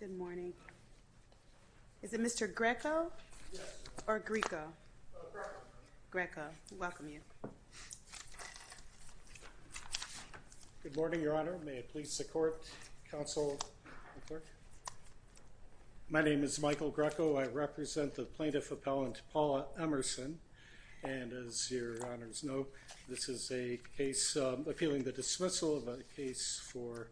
Good morning. Is it Mr. Greco or Greco? Greco. Welcome you. Good morning, Your Honor. May it please the court, counsel, and clerk. My name is Michael Greco. I represent the plaintiff appellant Paula Emerson. And as Your Honors know, this is a case appealing the dismissal of a case for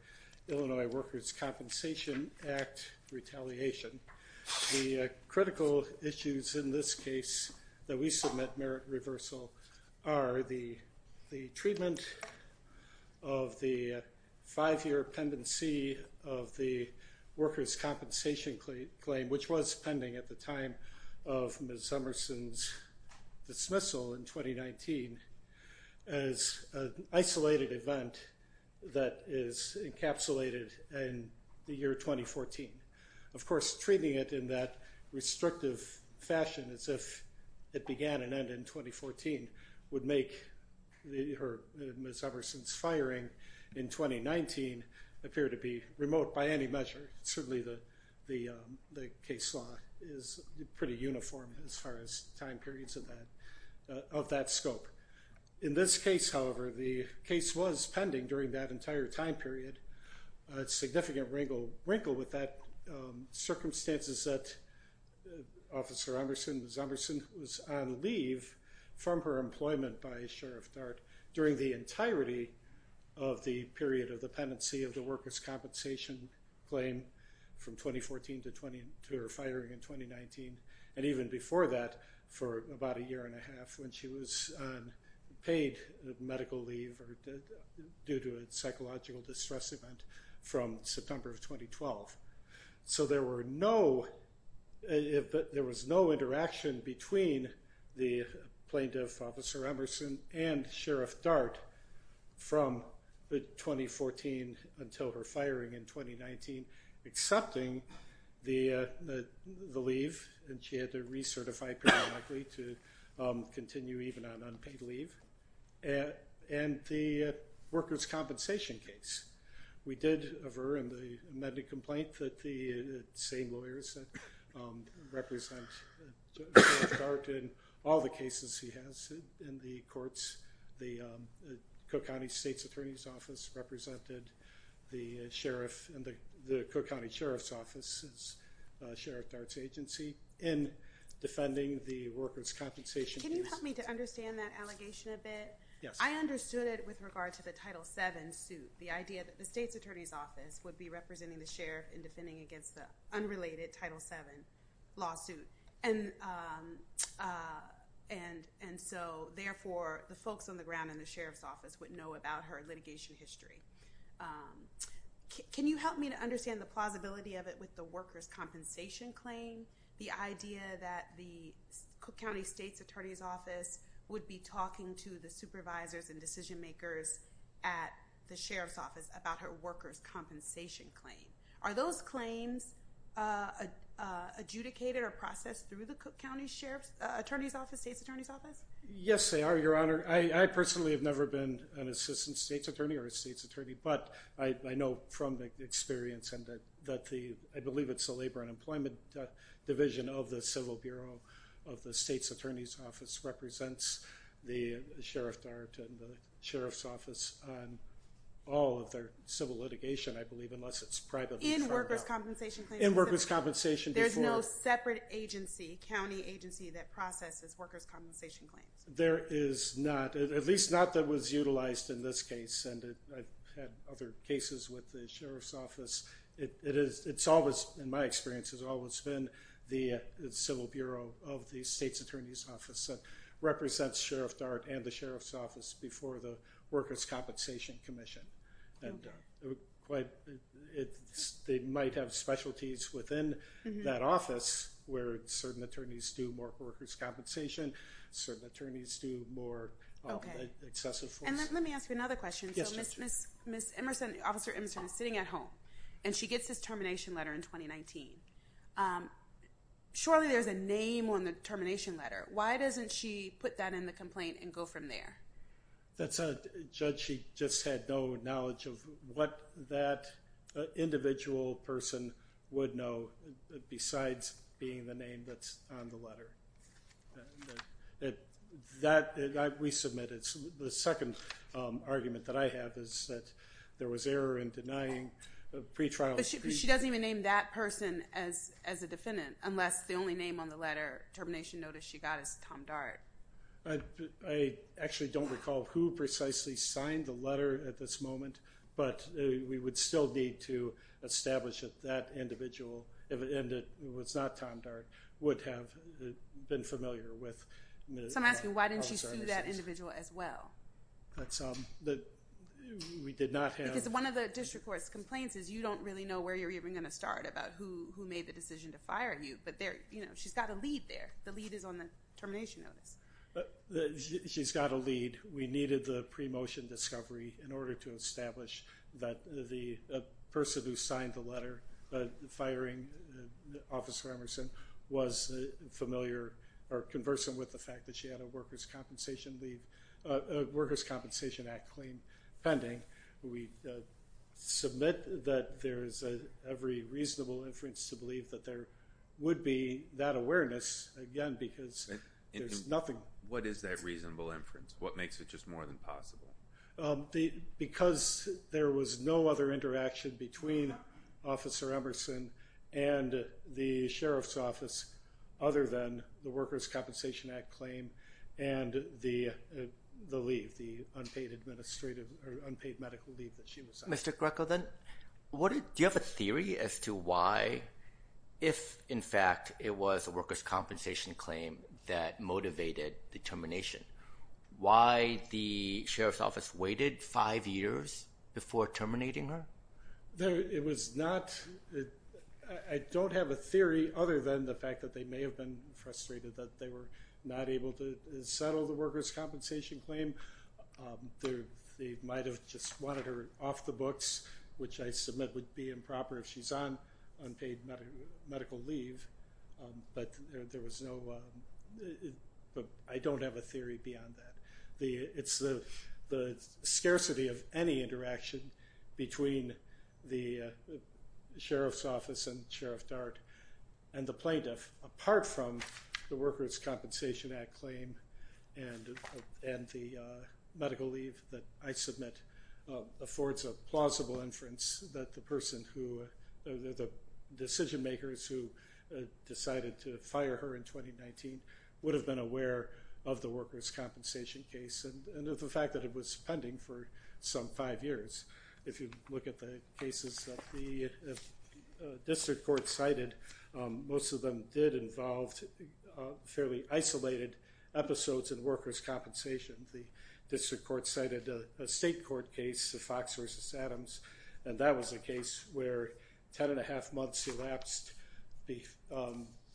Illinois Workers' Compensation Act retaliation. The critical issues in this case that we submit merit reversal are the treatment of the five-year pendency of the workers' compensation claim, which was pending at the time of Ms. Emerson's dismissal in 2019, as an isolated event that is encapsulated in the year 2014. Of course, treating it in that restrictive fashion as if it began and ended in 2014 would make Ms. Emerson's firing in 2019 appear to be remote by any measure. Certainly the case law is pretty uniform as far as time periods of that scope. In this case, however, the case was pending during that entire time period. It's a significant wrinkle with that circumstances that Officer Emerson, Ms. Emerson, was on leave from her employment by Sheriff Dart during the entirety of the period of the pendency of the workers' compensation claim from 2014 to her firing in 2019. And even before that, for about a year and a half when she was on paid medical leave due to a psychological distress event from September of 2012. So there was no interaction between the plaintiff, Officer Emerson, and Sheriff Dart from 2014 until her firing in 2019, accepting the leave. And she had to recertify periodically to continue even on unpaid leave. And the workers' compensation case. We did aver in the amended complaint that the same lawyers represent Sheriff Dart in all the cases he has in the courts. The Cook County State's Attorney's Office represented the Sheriff and the Cook County Sheriff's Office's Sheriff Dart's agency in defending the workers' compensation case. Can you help me to understand that allegation a bit? Yes. I understood it with regard to the Title VII suit. The idea that the State's Attorney's Office would be representing the Sheriff in defending against the unrelated Title VII lawsuit. And so, therefore, the folks on the ground in the Sheriff's Office would know about her litigation history. Can you help me to understand the plausibility of it with the workers' compensation claim? The idea that the Cook County State's Attorney's Office would be talking to the supervisors and decision makers at the Sheriff's Office about her workers' compensation claim. Are those claims adjudicated or processed through the Cook County Sheriff's Attorney's Office, State's Attorney's Office? I personally have never been an assistant State's Attorney or a State's Attorney. But I know from experience that I believe it's the Labor and Employment Division of the Civil Bureau of the State's Attorney's Office represents the Sheriff Dart and the Sheriff's Office on all of their civil litigation, I believe, unless it's privately filed. In workers' compensation claims? In workers' compensation. There's no separate agency, county agency, that processes workers' compensation claims? There is not, at least not that was utilized in this case. And I've had other cases with the Sheriff's Office. It's always, in my experience, it's always been the Civil Bureau of the State's Attorney's Office that represents Sheriff Dart and the Sheriff's Office before the Workers' Compensation Commission. They might have specialties within that office where certain attorneys do more workers' compensation, certain attorneys do more excessive force. And let me ask you another question. Yes, Judge. So Ms. Emerson, Officer Emerson is sitting at home and she gets this termination letter in 2019. Surely there's a name on the termination letter. Why doesn't she put that in the complaint and go from there? Judge, she just had no knowledge of what that individual person would know besides being the name that's on the letter. That we submitted. The second argument that I have is that there was error in denying pretrials. But she doesn't even name that person as a defendant unless the only name on the letter, termination notice, she got is Tom Dart. I actually don't recall who precisely signed the letter at this moment. But we would still need to establish that that individual, if it was not Tom Dart, would have been familiar with. So I'm asking why didn't she sue that individual as well? We did not have... Because one of the district court's complaints is you don't really know where you're even going to start about who made the decision to fire you. But she's got a lead there. The lead is on the termination notice. She's got a lead. We needed the pre-motion discovery in order to establish that the person who signed the letter firing Officer Emerson was familiar or conversant with the fact that she had a Workers' Compensation Act claim pending. We submit that there is every reasonable inference to believe that there would be that awareness, again, because there's nothing... What is that reasonable inference? What makes it just more than possible? Because there was no other interaction between Officer Emerson and the Sheriff's Office other than the Workers' Compensation Act claim and the leave, the unpaid medical leave that she was on. Mr. Greco, then, do you have a theory as to why, if, in fact, it was a Workers' Compensation claim that motivated the termination, why the Sheriff's Office waited five years before terminating her? It was not... I don't have a theory other than the fact that they may have been frustrated that they were not able to settle the Workers' Compensation claim. They might have just wanted her off the books, which I submit would be improper if she's on unpaid medical leave. But there was no... I don't have a theory beyond that. It's the scarcity of any interaction between the Sheriff's Office and Sheriff Dart and the plaintiff, apart from the Workers' Compensation Act claim and the medical leave that I submit affords a plausible inference that the person who...the decision-makers who decided to fire her in 2019 would have been aware of the Workers' Compensation case and of the fact that it was pending for some five years. If you look at the cases that the district court cited, most of them did involve fairly isolated episodes in Workers' Compensation. The district court cited a state court case, the Fox versus Adams, and that was a case where ten and a half months elapsed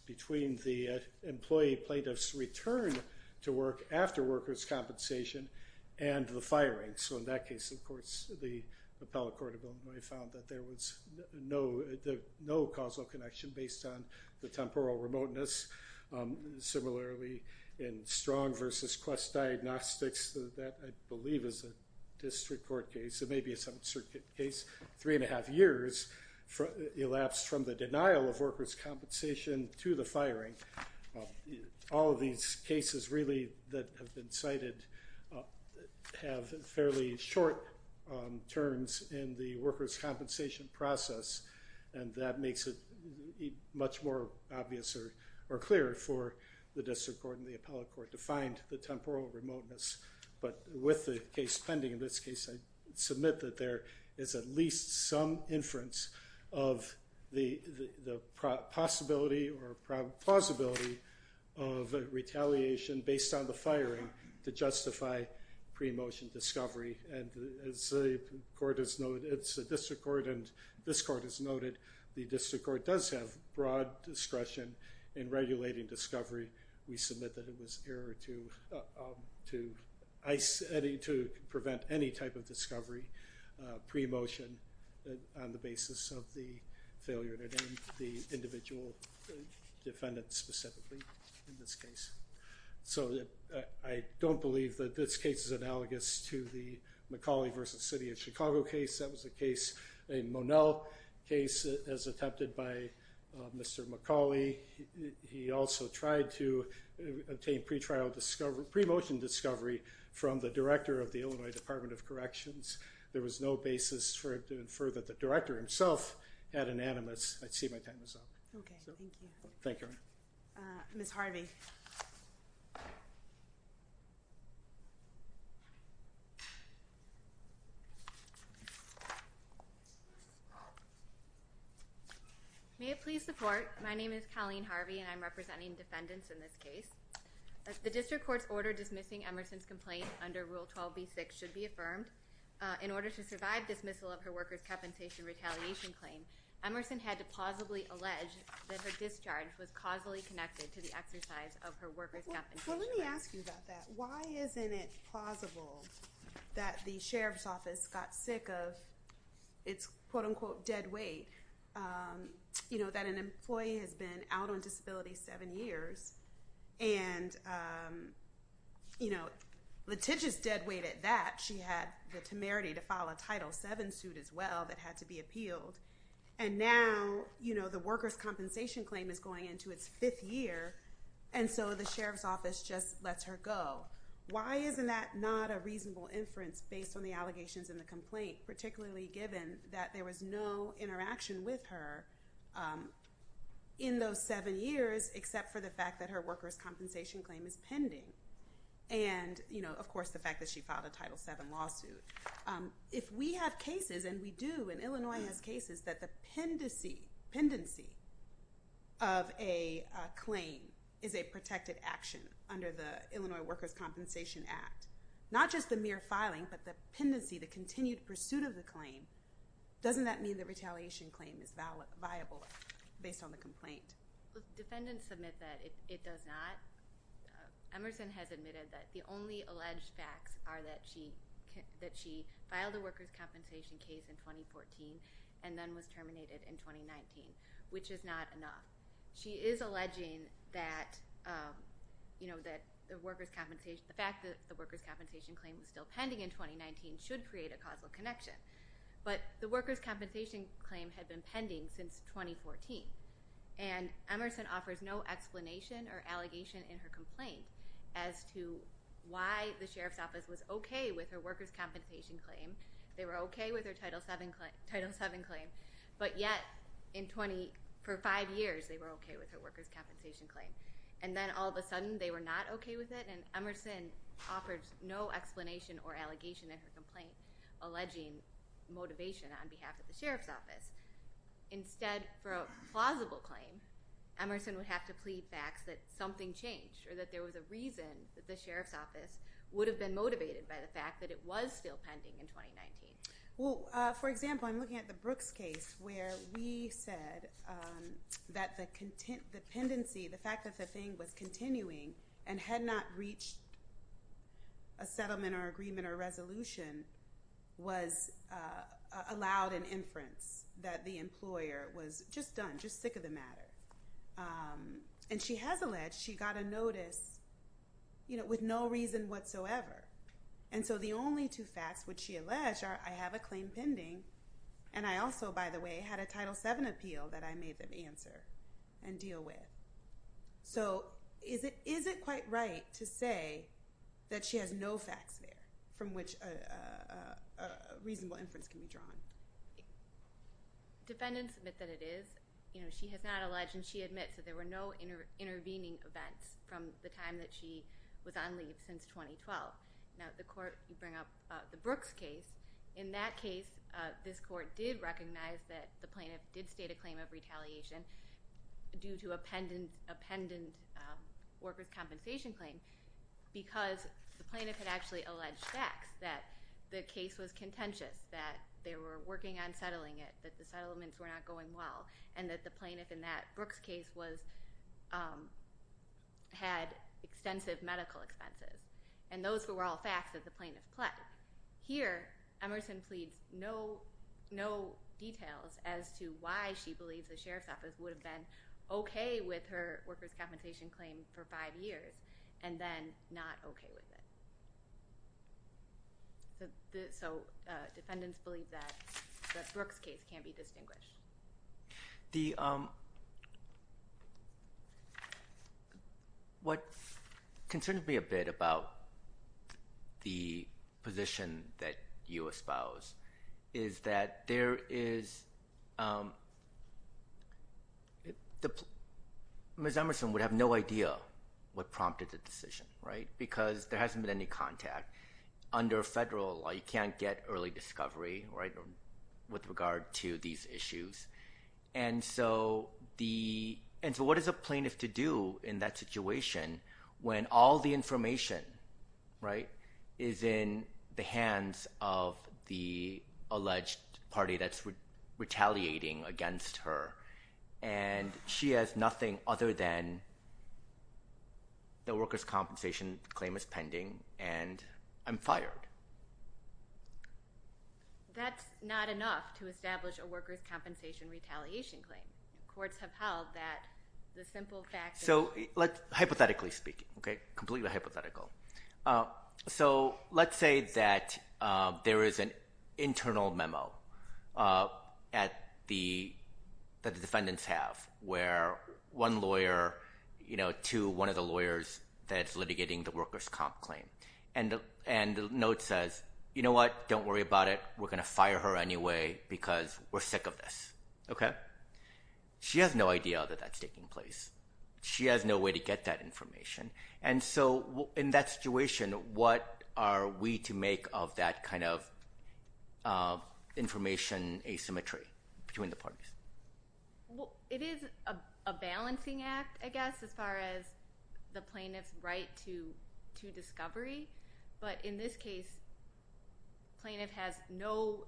between the employee plaintiff's return to work after Workers' Compensation and the firing. So in that case, of course, the appellate court found that there was no causal connection based on the temporal remoteness. Similarly, in Strong versus Quest Diagnostics, that I believe is a district court case. It may be some circuit case. Three and a half years elapsed from the denial of Workers' Compensation to the firing. All of these cases really that have been cited have fairly short terms in the Workers' Compensation process, and that makes it much more obvious or clearer for the district court and the appellate court to find the temporal remoteness. But with the case pending in this case, I submit that there is at least some inference of the possibility or plausibility of retaliation based on the firing to justify pre-motion discovery. And as the court has noted, it's a district court, and this court has noted the district court does have broad discretion in regulating discovery. We submit that it was error to prevent any type of discovery pre-motion on the basis of the failure to name the individual defendant specifically in this case. So I don't believe that this case is analogous to the Macaulay v. City of Chicago case. That was a case, a Monell case, as attempted by Mr. Macaulay. He also tried to obtain pre-motion discovery from the director of the Illinois Department of Corrections. There was no basis for him to infer that the director himself had an animus. I see my time is up. Thank you. Ms. Harvey. May it please the court, my name is Colleen Harvey, and I'm representing defendants in this case. The district court's order dismissing Emerson's complaint under Rule 12b-6 should be affirmed. In order to survive dismissal of her workers' compensation retaliation claim, Emerson had to plausibly allege that her discharge was causally connected to the exercise of her workers' compensation claim. Well, let me ask you about that. Why isn't it plausible that the sheriff's office got sick of its, quote-unquote, dead weight? You know, that an employee has been out on disability seven years, and, you know, litigious dead weight at that. She had the temerity to file a Title VII suit as well that had to be appealed. And now, you know, the workers' compensation claim is going into its fifth year, and so the sheriff's office just lets her go. Why isn't that not a reasonable inference based on the allegations in the complaint, particularly given that there was no interaction with her in those seven years, except for the fact that her workers' compensation claim is pending? And, you know, of course, the fact that she filed a Title VII lawsuit. If we have cases, and we do, and Illinois has cases that the pendency of a claim is a protected action under the Illinois Workers' Compensation Act, not just the mere filing, but the pendency, the continued pursuit of the claim, doesn't that mean the retaliation claim is viable based on the complaint? Defendants submit that it does not. Emerson has admitted that the only alleged facts are that she filed a workers' compensation case in 2014 and then was terminated in 2019, which is not enough. She is alleging that, you know, that the workers' compensation—the fact that the workers' compensation claim was still pending in 2019 should create a causal connection. But the workers' compensation claim had been pending since 2014, and Emerson offers no explanation or allegation in her complaint as to why the sheriff's office was okay with her workers' compensation claim. They were okay with her Title VII claim, but yet in 20—for five years, they were okay with her workers' compensation claim. And then all of a sudden, they were not okay with it, and Emerson offers no explanation or allegation in her complaint alleging motivation on behalf of the sheriff's office. Instead, for a plausible claim, Emerson would have to plead facts that something changed or that there was a reason that the sheriff's office would have been motivated by the fact that it was still pending in 2019. Well, for example, I'm looking at the Brooks case where we said that the pendency—the fact that the thing was continuing and had not reached a settlement or agreement or resolution was allowed an inference that the employer was just done, just sick of the matter. And she has alleged she got a notice with no reason whatsoever. And so the only two facts which she alleged are, I have a claim pending, and I also, by the way, had a Title VII appeal that I made them answer and deal with. So is it quite right to say that she has no facts there from which a reasonable inference can be drawn? Defendants admit that it is. She has not alleged, and she admits that there were no intervening events from the time that she was on leave since 2012. Now, the court—you bring up the Brooks case. In that case, this court did recognize that the plaintiff did state a claim of retaliation due to a pendent workers' compensation claim because the plaintiff had actually alleged facts, that the case was contentious, that they were working on settling it, that the settlements were not going well, and that the plaintiff in that Brooks case was—had extensive medical expenses. And those were all facts that the plaintiff pled. But here, Emerson pleads no details as to why she believes the sheriff's office would have been okay with her workers' compensation claim for five years and then not okay with it. So defendants believe that the Brooks case can't be distinguished. The—what concerns me a bit about the position that you espouse is that there is—Ms. Emerson would have no idea what prompted the decision, right, because there hasn't been any contact. Under federal law, you can't get early discovery, right, with regard to these issues. And so the—and so what is a plaintiff to do in that situation when all the information, right, is in the hands of the alleged party that's retaliating against her? And she has nothing other than the workers' compensation claim is pending and I'm fired. That's not enough to establish a workers' compensation retaliation claim. Courts have held that the simple fact that— So let's—hypothetically speaking, okay, completely hypothetical. So let's say that there is an internal memo at the—that the defendants have where one lawyer, you know, to one of the lawyers that's litigating the workers' comp claim. And the note says, you know what, don't worry about it. We're going to fire her anyway because we're sick of this, okay? She has no idea that that's taking place. She has no way to get that information. And so in that situation, what are we to make of that kind of information asymmetry between the parties? Well, it is a balancing act, I guess, as far as the plaintiff's right to discovery. But in this case, plaintiff has no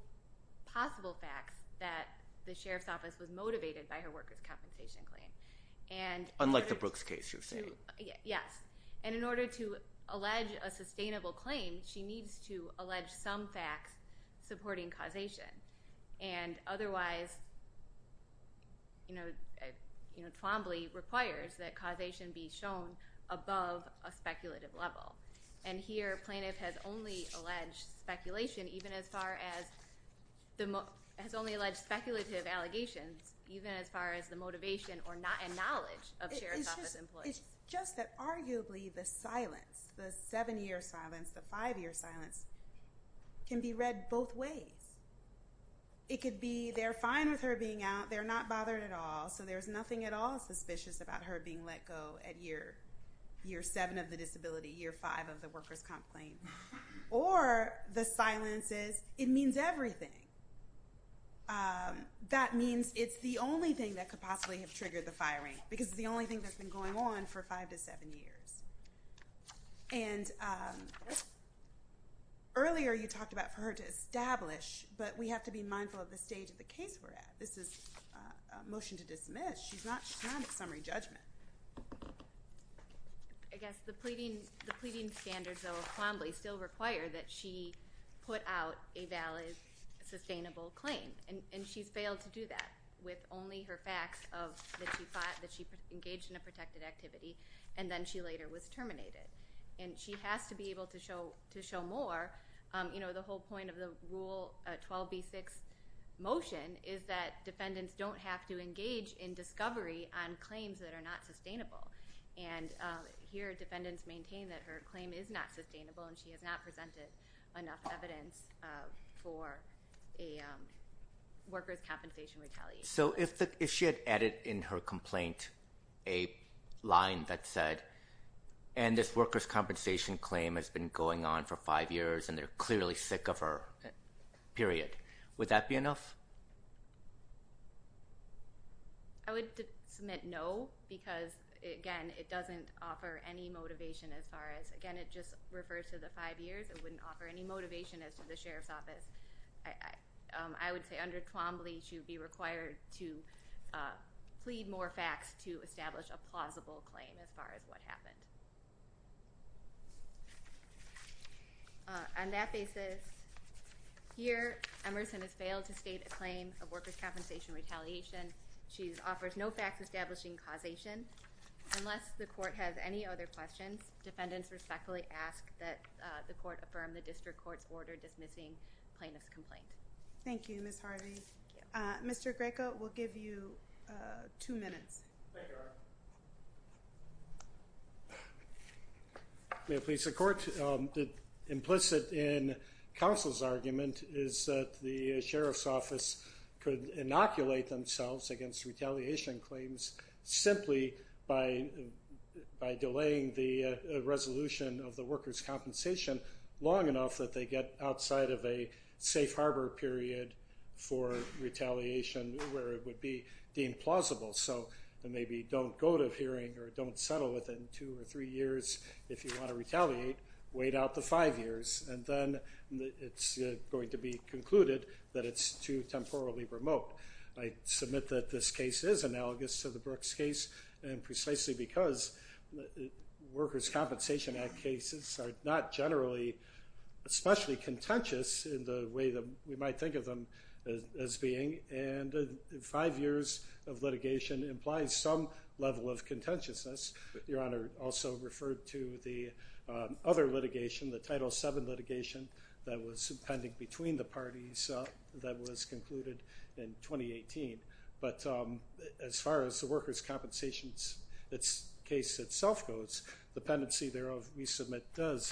possible facts that the sheriff's office was motivated by her workers' compensation claim. Unlike the Brooks case you're saying? Yes. And in order to allege a sustainable claim, she needs to allege some facts supporting causation. And otherwise, you know, Twombly requires that causation be shown above a speculative level. And here, plaintiff has only alleged speculation, even as far as—has only alleged speculative allegations, even as far as the motivation and knowledge of sheriff's office employees. It's just that arguably the silence, the seven-year silence, the five-year silence, can be read both ways. It could be they're fine with her being out, they're not bothered at all, so there's nothing at all suspicious about her being let go at year seven of the disability, year five of the workers' comp claim. Or the silence is, it means everything. That means it's the only thing that could possibly have triggered the firing, because it's the only thing that's been going on for five to seven years. And earlier you talked about for her to establish, but we have to be mindful of the stage of the case we're at. This is a motion to dismiss. She's not at summary judgment. I guess the pleading standards, though, of Twombly still require that she put out a valid, sustainable claim. And she's failed to do that with only her facts of that she fought, that she engaged in a protected activity, and then she later was terminated. And she has to be able to show more. The whole point of the Rule 12b-6 motion is that defendants don't have to engage in discovery on claims that are not sustainable. And here defendants maintain that her claim is not sustainable, and she has not presented enough evidence for a workers' compensation retaliation. So if she had added in her complaint a line that said, and this workers' compensation claim has been going on for five years, and they're clearly sick of her, period, would that be enough? I would submit no, because, again, it doesn't offer any motivation as far as, again, it just refers to the five years. It wouldn't offer any motivation as to the sheriff's office. I would say under Twombly, she would be required to plead more facts to establish a plausible claim as far as what happened. On that basis, here Emerson has failed to state a claim of workers' compensation retaliation. She offers no facts establishing causation. Unless the court has any other questions, defendants respectfully ask that the court affirm the district court's order dismissing plaintiff's complaint. Thank you, Ms. Harvey. Thank you. Mr. Greco, we'll give you two minutes. May it please the court. Implicit in counsel's argument is that the sheriff's office could inoculate themselves against retaliation claims simply by delaying the resolution of the workers' compensation long enough that they get outside of a safe harbor period for retaliation where it would be deemed plausible. So maybe don't go to hearing or don't settle within two or three years. If you want to retaliate, wait out the five years, and then it's going to be concluded that it's too temporally remote. I submit that this case is analogous to the Brooks case, and precisely because workers' compensation act cases are not generally especially contentious in the way that we might think of them as being. And five years of litigation implies some level of contentiousness. Your Honor also referred to the other litigation, the Title VII litigation that was pending between the parties that was concluded in 2018. But as far as the workers' compensation case itself goes, the pendency thereof we submit does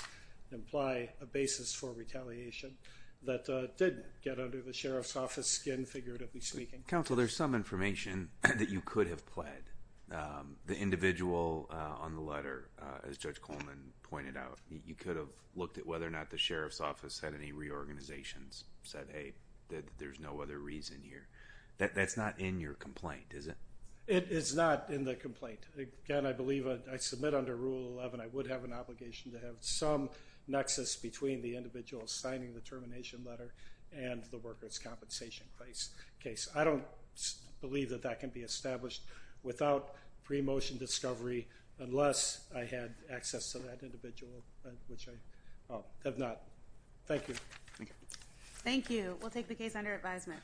imply a basis for retaliation that did get under the sheriff's office skin, figuratively speaking. Counsel, there's some information that you could have pled. The individual on the letter, as Judge Coleman pointed out, you could have looked at whether or not the sheriff's office had any reorganizations, said, hey, there's no other reason here. That's not in your complaint, is it? It is not in the complaint. Again, I believe I submit under Rule 11 I would have an obligation to have some nexus between the individual signing the termination letter and the workers' compensation case. I don't believe that that can be established without pre-motion discovery unless I had access to that individual, which I have not. Thank you. Thank you. Thank you. We'll take the case under advisement.